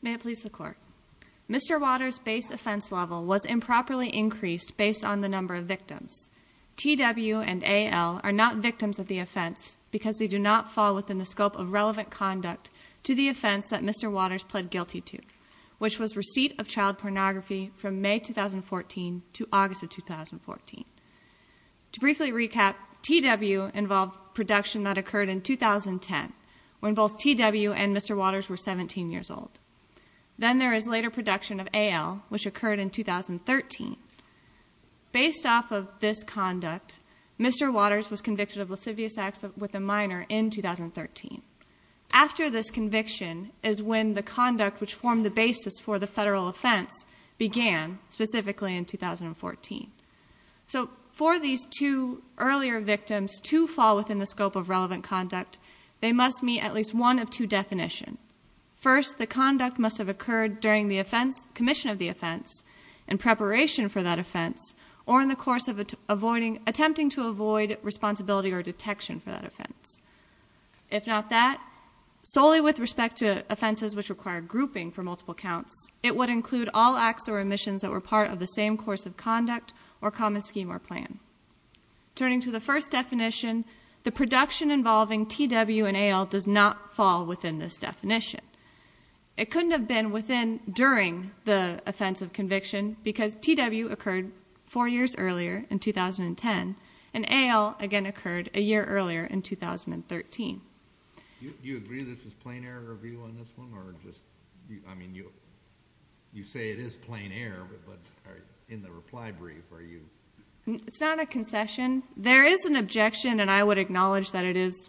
May it please the Court, Mr. Watters' base offense level was improperly increased based on the number of victims. T.W. and A.L. are not victims of the offense because they do not fall within the scope of relevant conduct to the offense that Mr. Watters pled guilty to, which was receipt of child pornography from May 2014 to August of 2014. To briefly recap, T.W. involved production that occurred in 2010, when both T.W. and Mr. Watters were 17 years old. Then there is later production of A.L., which occurred in 2013. Based off of this conduct, Mr. Watters was convicted of lascivious acts with a minor in 2013. After this conviction is when the conduct which formed the basis for the federal offense began, specifically in 2014. So for these two earlier victims to fall within the definition, first the conduct must have occurred during the offense, commission of the offense, in preparation for that offense, or in the course of attempting to avoid responsibility or detection for that offense. If not that, solely with respect to offenses which require grouping for multiple counts, it would include all acts or omissions that were part of the same course of conduct or common scheme or plan. Turning to the first definition, the second definition, it couldn't have been within, during the offense of conviction, because T.W. occurred four years earlier, in 2010, and A.L. again occurred a year earlier in 2013. Do you agree this is plain error of you on this one, or just, I mean, you say it is plain error, but in the reply brief, are you... It's not a concession. There is an objection, and I would acknowledge that it is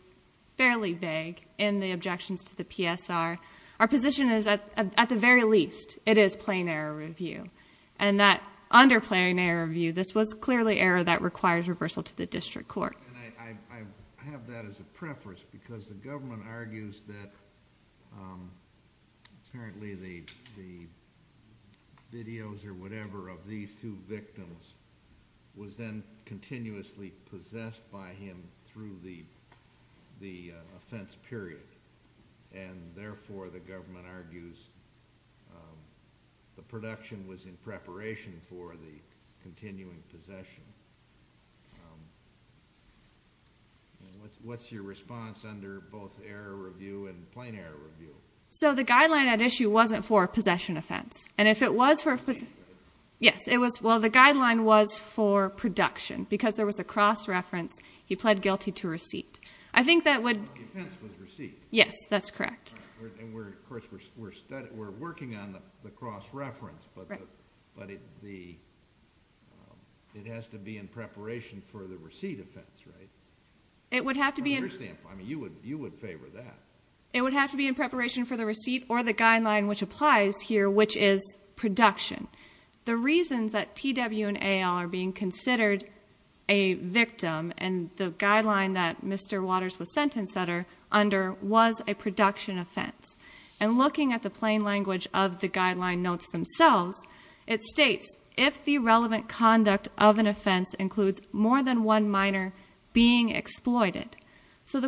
fairly vague in the objections to the PSR. Our position is that, at the very least, it is plain error of you, and that under plain error of you, this was clearly error that requires reversal to the district court. I have that as a preface, because the government argues that, apparently, the videos or whatever of these two victims was then continuously possessed by him through the effects of the offense period, and therefore, the government argues, the production was in preparation for the continuing possession. What's your response under both error review and plain error review? So the guideline at issue wasn't for possession offense, and if it was for, yes, it was, well, the guideline was for production, because there was a cross-reference, he pled guilty to receipt. I think that would... The offense was receipt. Yes, that's correct. And, of course, we're working on the cross-reference, but it has to be in preparation for the receipt offense, right? It would have to be... I understand. I mean, you would favor that. It would have to be in preparation for the receipt or the guideline which applies here, which is production. The reason that TW and AL are being considered a victim, and the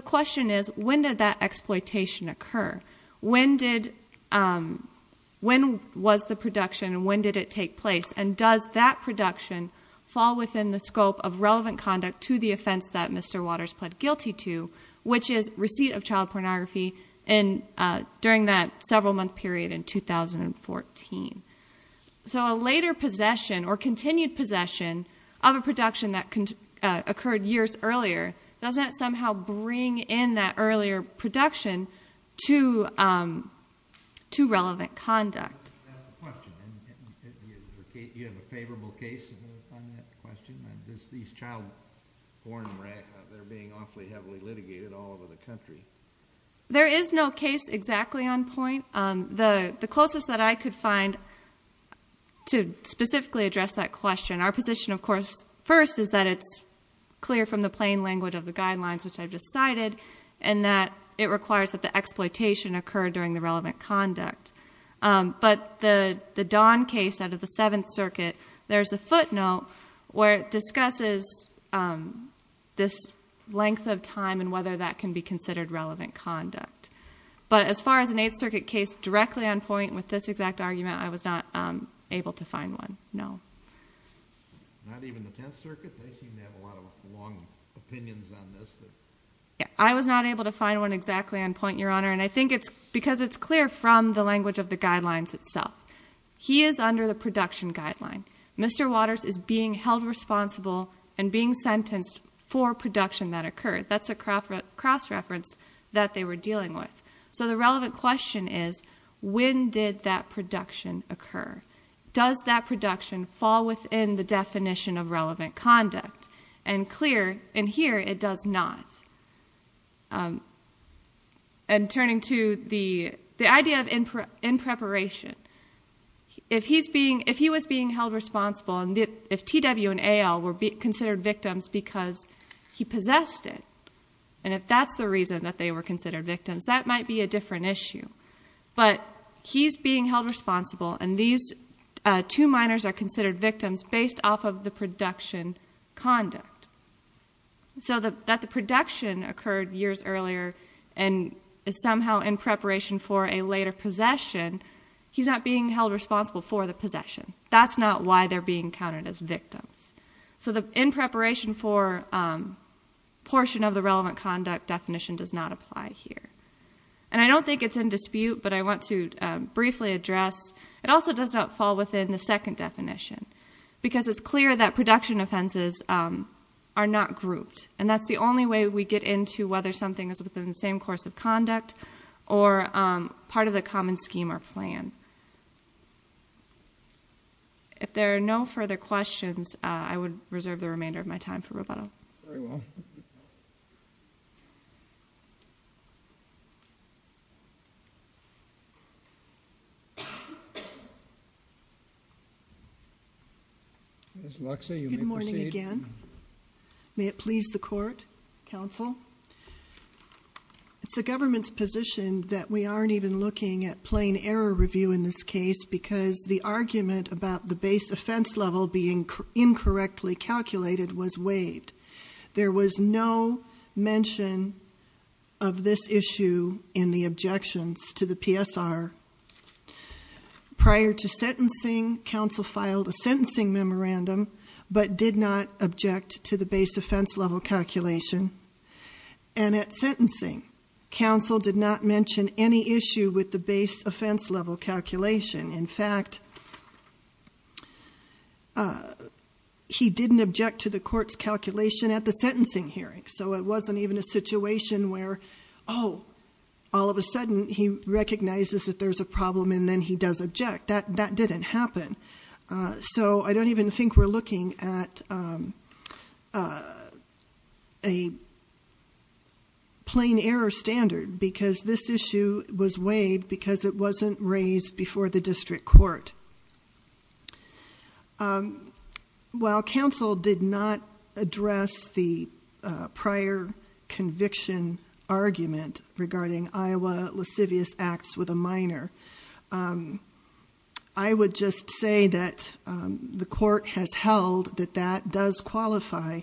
question is, when did that exploitation occur? When did... When was the production, and when did it take place, and does that production fall within the scope of relevant conduct to the offense that Mr. Waters pled guilty to, which is receipt of child pornography during that several-month period in 2014? So a later possession or continued possession of a production that occurred years earlier, doesn't that somehow bring in that earlier production to relevant conduct? That's the question. Do you have a favorable case on that question? These child porn racks, they're being awfully heavily litigated all over the country. There is no case exactly on point. The closest that I could find to specifically address that question, our position, of course, first is that it's clear from the plain language of the guidelines which I've just cited, and that it requires that the exploitation occur during the relevant conduct. But the Don case out of the 7th Circuit, there's a footnote where it discusses this length of time and whether that can be considered relevant conduct. But as far as an 8th Circuit case directly on point with this exact argument, I was not able to find one, no. Not even the 10th Circuit? They seem to have a lot of long opinions on this. I was not able to find one exactly on point, Your Honor, and I think it's because it's clear from the language of the guidelines itself. He is under the production guideline. Mr. Waters is being held responsible and being sentenced for production that occurred. That's a cross-reference that they were dealing with. So the relevant question is, when did that production occur? Does that production fall within the definition of relevant conduct? And clear in here, it does not. And turning to the idea of in-preparation, if he was being held responsible and if T.W. and A.L. were considered victims because he possessed it, and if that's the reason that they were considered victims, that might be a different issue. But he's being held responsible and these two minors are considered victims based off of the production conduct. So that the production occurred years earlier and is somehow in preparation for a later possession, he's not being held responsible for the possession. That's not why they're being counted as victims. So the in-preparation for portion of the relevant conduct definition does not apply here. And I don't think it's in dispute, but I want to briefly address, it also does not fall within the second definition. Because it's clear that production offenses are not grouped. And that's the only way we get into whether something is within the same course of conduct or part of the common scheme or plan. If there are no further questions, I would reserve the remainder of my time for rebuttal. Ms. Luxa, you may proceed. Good morning again. May it please the court, counsel? It's the government's position that we aren't even looking at plain error review in this case because the argument about the base offense level being incorrectly calculated was waived. There was no mention of the base of this issue in the objections to the PSR. Prior to sentencing, counsel filed a sentencing memorandum but did not object to the base offense level calculation. And at sentencing, counsel did not mention any issue with the base offense level calculation. In fact, he didn't object to the court's calculation at the sentencing hearing. So it wasn't even a situation where, oh, all of a sudden he recognizes that there's a problem and then he does object. That didn't happen. So I don't even think we're looking at a plain error standard because this issue was waived because it wasn't raised before the district court. While counsel did not address the prior conviction argument regarding Iowa lascivious acts with a minor, I would just say that the court has held that that does qualify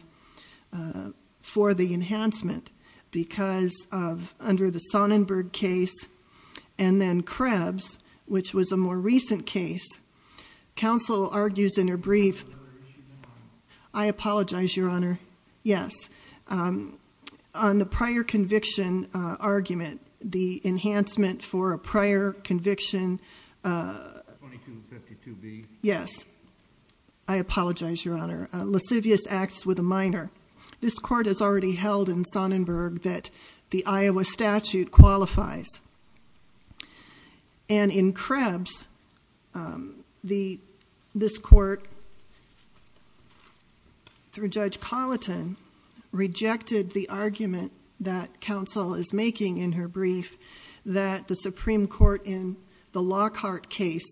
for the enhancement because of, under the Sonnenberg case and then Krebs, which was a more recent case, counsel argues in her brief, I apologize, Your Honor, yes, on the prior conviction argument, the enhancement for a prior conviction, yes, I apologize, Your Honor, lascivious acts with a minor. This court has already held in Sonnenberg that the Iowa statute qualifies. And in Krebs, this court, through Judge Colleton, rejected the argument that counsel is making in her brief that the Supreme Court in the Lockhart case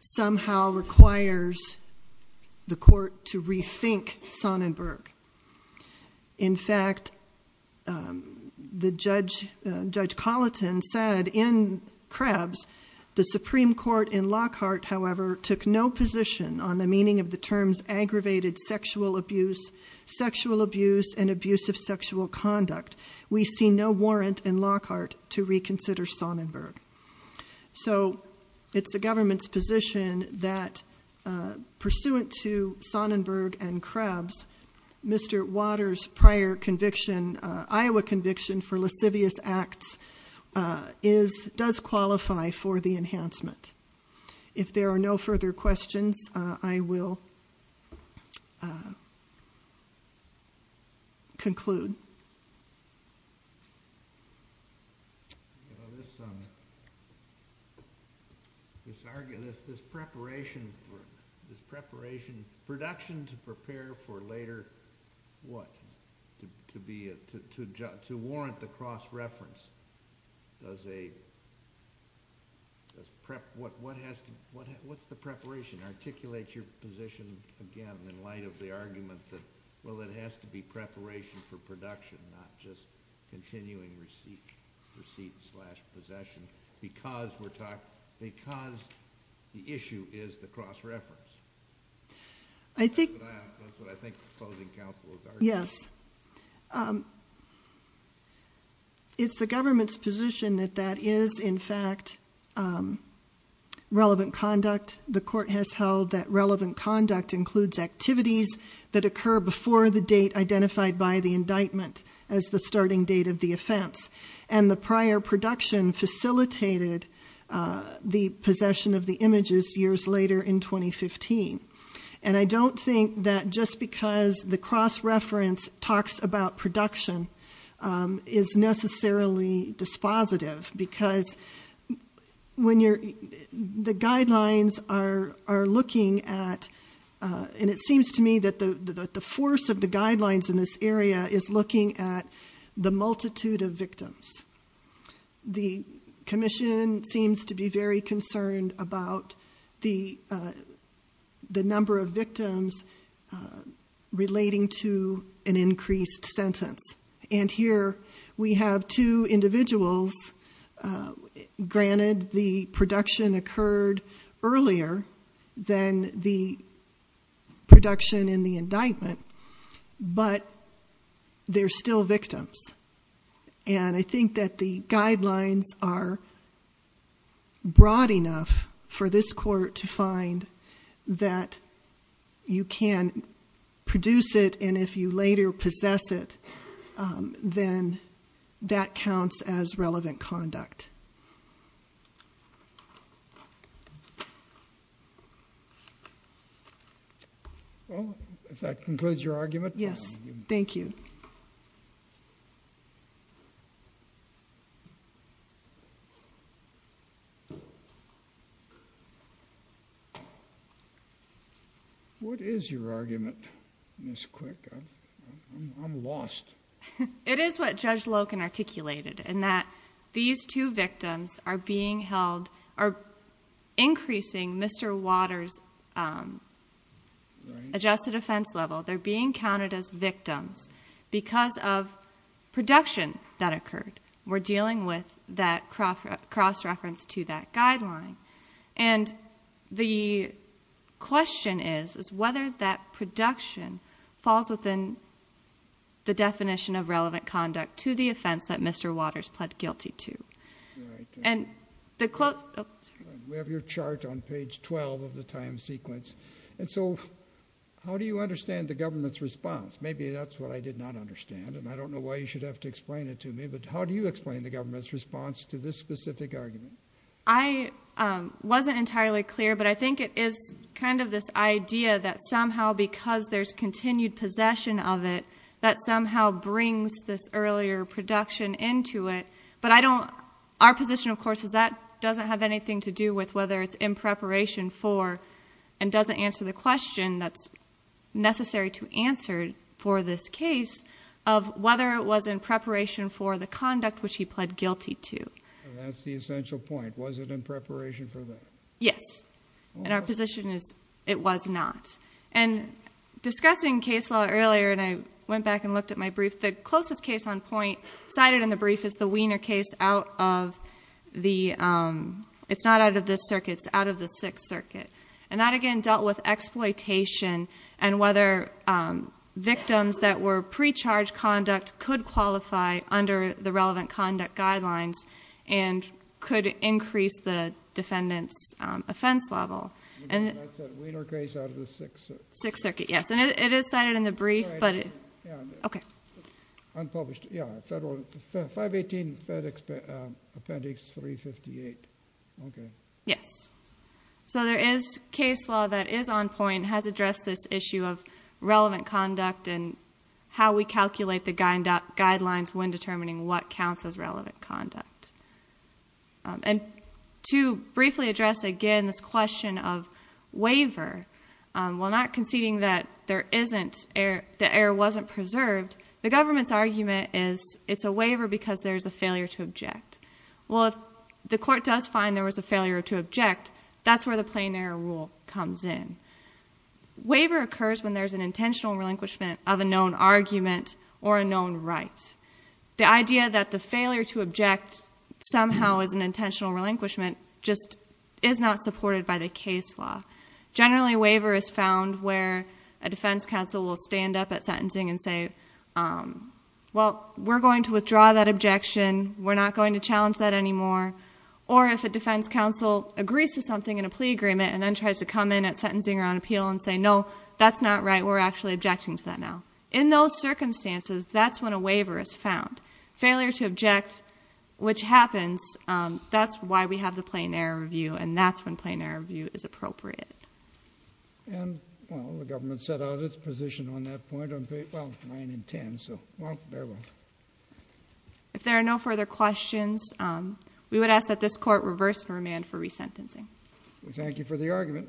somehow requires the court to rethink Sonnenberg. In fact, Judge Colleton said in Krebs, the Supreme Court in Lockhart, however, took no position on the meaning of the terms aggravated sexual abuse, sexual abuse and abuse of sexual conduct. We see no warrant in Lockhart to reconsider Sonnenberg. So it's the government's position that, pursuant to Sonnenberg and Krebs, Mr. Waters' prior conviction, Iowa conviction for lascivious acts does qualify for the enhancement. If there are no further questions, I will conclude. This argument, this preparation, this preparation, production to prepare for later, what, to be a, to warrant the cross-reference, does a, what's the preparation? Articulate your preparation for production, not just continuing receipt, receipt slash possession, because the issue is the cross-reference. That's what I think the proposing counsel is arguing. Yes. It's the government's position that that is, in fact, relevant conduct. The court has identified the indictment as the starting date of the offense, and the prior production facilitated the possession of the images years later in 2015. And I don't think that just because the cross-reference talks about production is necessarily dispositive, because when you're, the guidelines are looking at, and it seems to me that the force of the guidelines in this area is looking at the multitude of victims. The commission seems to be very concerned about the, the number of victims relating to an increased sentence. And here, we have two individuals, granted the production occurred earlier than the production in the indictment, but they're still victims. And I think that the guidelines are broad enough for this court to find that you can produce it, and if you later possess it, then that counts as relevant conduct. Yes. Thank you. What is your argument, Ms. Quick? I'm lost. It is what Judge Loken articulated, in that these two victims are being held, are increasing Mr. Waters' adjusted offense level. They're being counted as victims because of production that occurred. We're dealing with that cross-reference to that guideline. And the question is, is whether that production falls within the definition of relevant conduct to the offense that Mr. Waters articulated. And so, how do you understand the government's response? Maybe that's what I did not understand, and I don't know why you should have to explain it to me, but how do you explain the government's response to this specific argument? I wasn't entirely clear, but I think it is kind of this idea that somehow, because there's continued possession of it, that somehow brings this earlier production into it. But I don't, our position, of course, is that doesn't have anything to do with whether it's in preparation for, and doesn't answer the question that's necessary to answer for this case, of whether it was in preparation for the conduct which he pled guilty to. That's the essential point. Was it in preparation for that? Yes. And our position is, it was not. And discussing case law earlier, and I went back and looked at my brief, the closest case on point cited in the brief is the Wiener case out of the, it's not out of this circuit, it's out of the Sixth Circuit. And that again dealt with exploitation, and whether victims that were pre-charged conduct could qualify under the relevant conduct guidelines, and could increase the defendant's offense level. And that's the Wiener case out of the Sixth Circuit. Sixth Circuit, yes. And it is cited in the brief, but it, okay. Unpublished, yeah. Federal, 518 Appendix 358. Okay. Yes. So there is case law that is on point, has addressed this issue of relevant conduct, and how we calculate the guidelines when determining what counts as relevant conduct. And to briefly address again this question of waiver, while not conceding that there isn't, the error wasn't preserved, the government's argument is it's a waiver because there's a failure to object. Well, if the court does find there was a failure to object, that's where the plain error rule comes in. Waiver occurs when there's an intentional relinquishment of a known argument or a known right. The idea that the failure to object somehow is an intentional relinquishment just is not supported by the case law. Generally, waiver is found where a defense counsel will stand up at sentencing and say, well, we're going to withdraw that objection, we're not going to challenge that anymore. Or if a defense counsel agrees to something in a plea agreement and then tries to come in at sentencing or on appeal and say, no, that's not right, we're actually objecting to that now. In those circumstances, that's when a waiver is found. Failure to object, which happens, that's why we have the Plain Error Review, and that's when Plain Error Review is appropriate. And, well, the government set out its position on that point on page, well, 9 and 10, so, well, very well. If there are no further questions, we would ask that this court reverse the remand for resentencing. Thank you for the argument.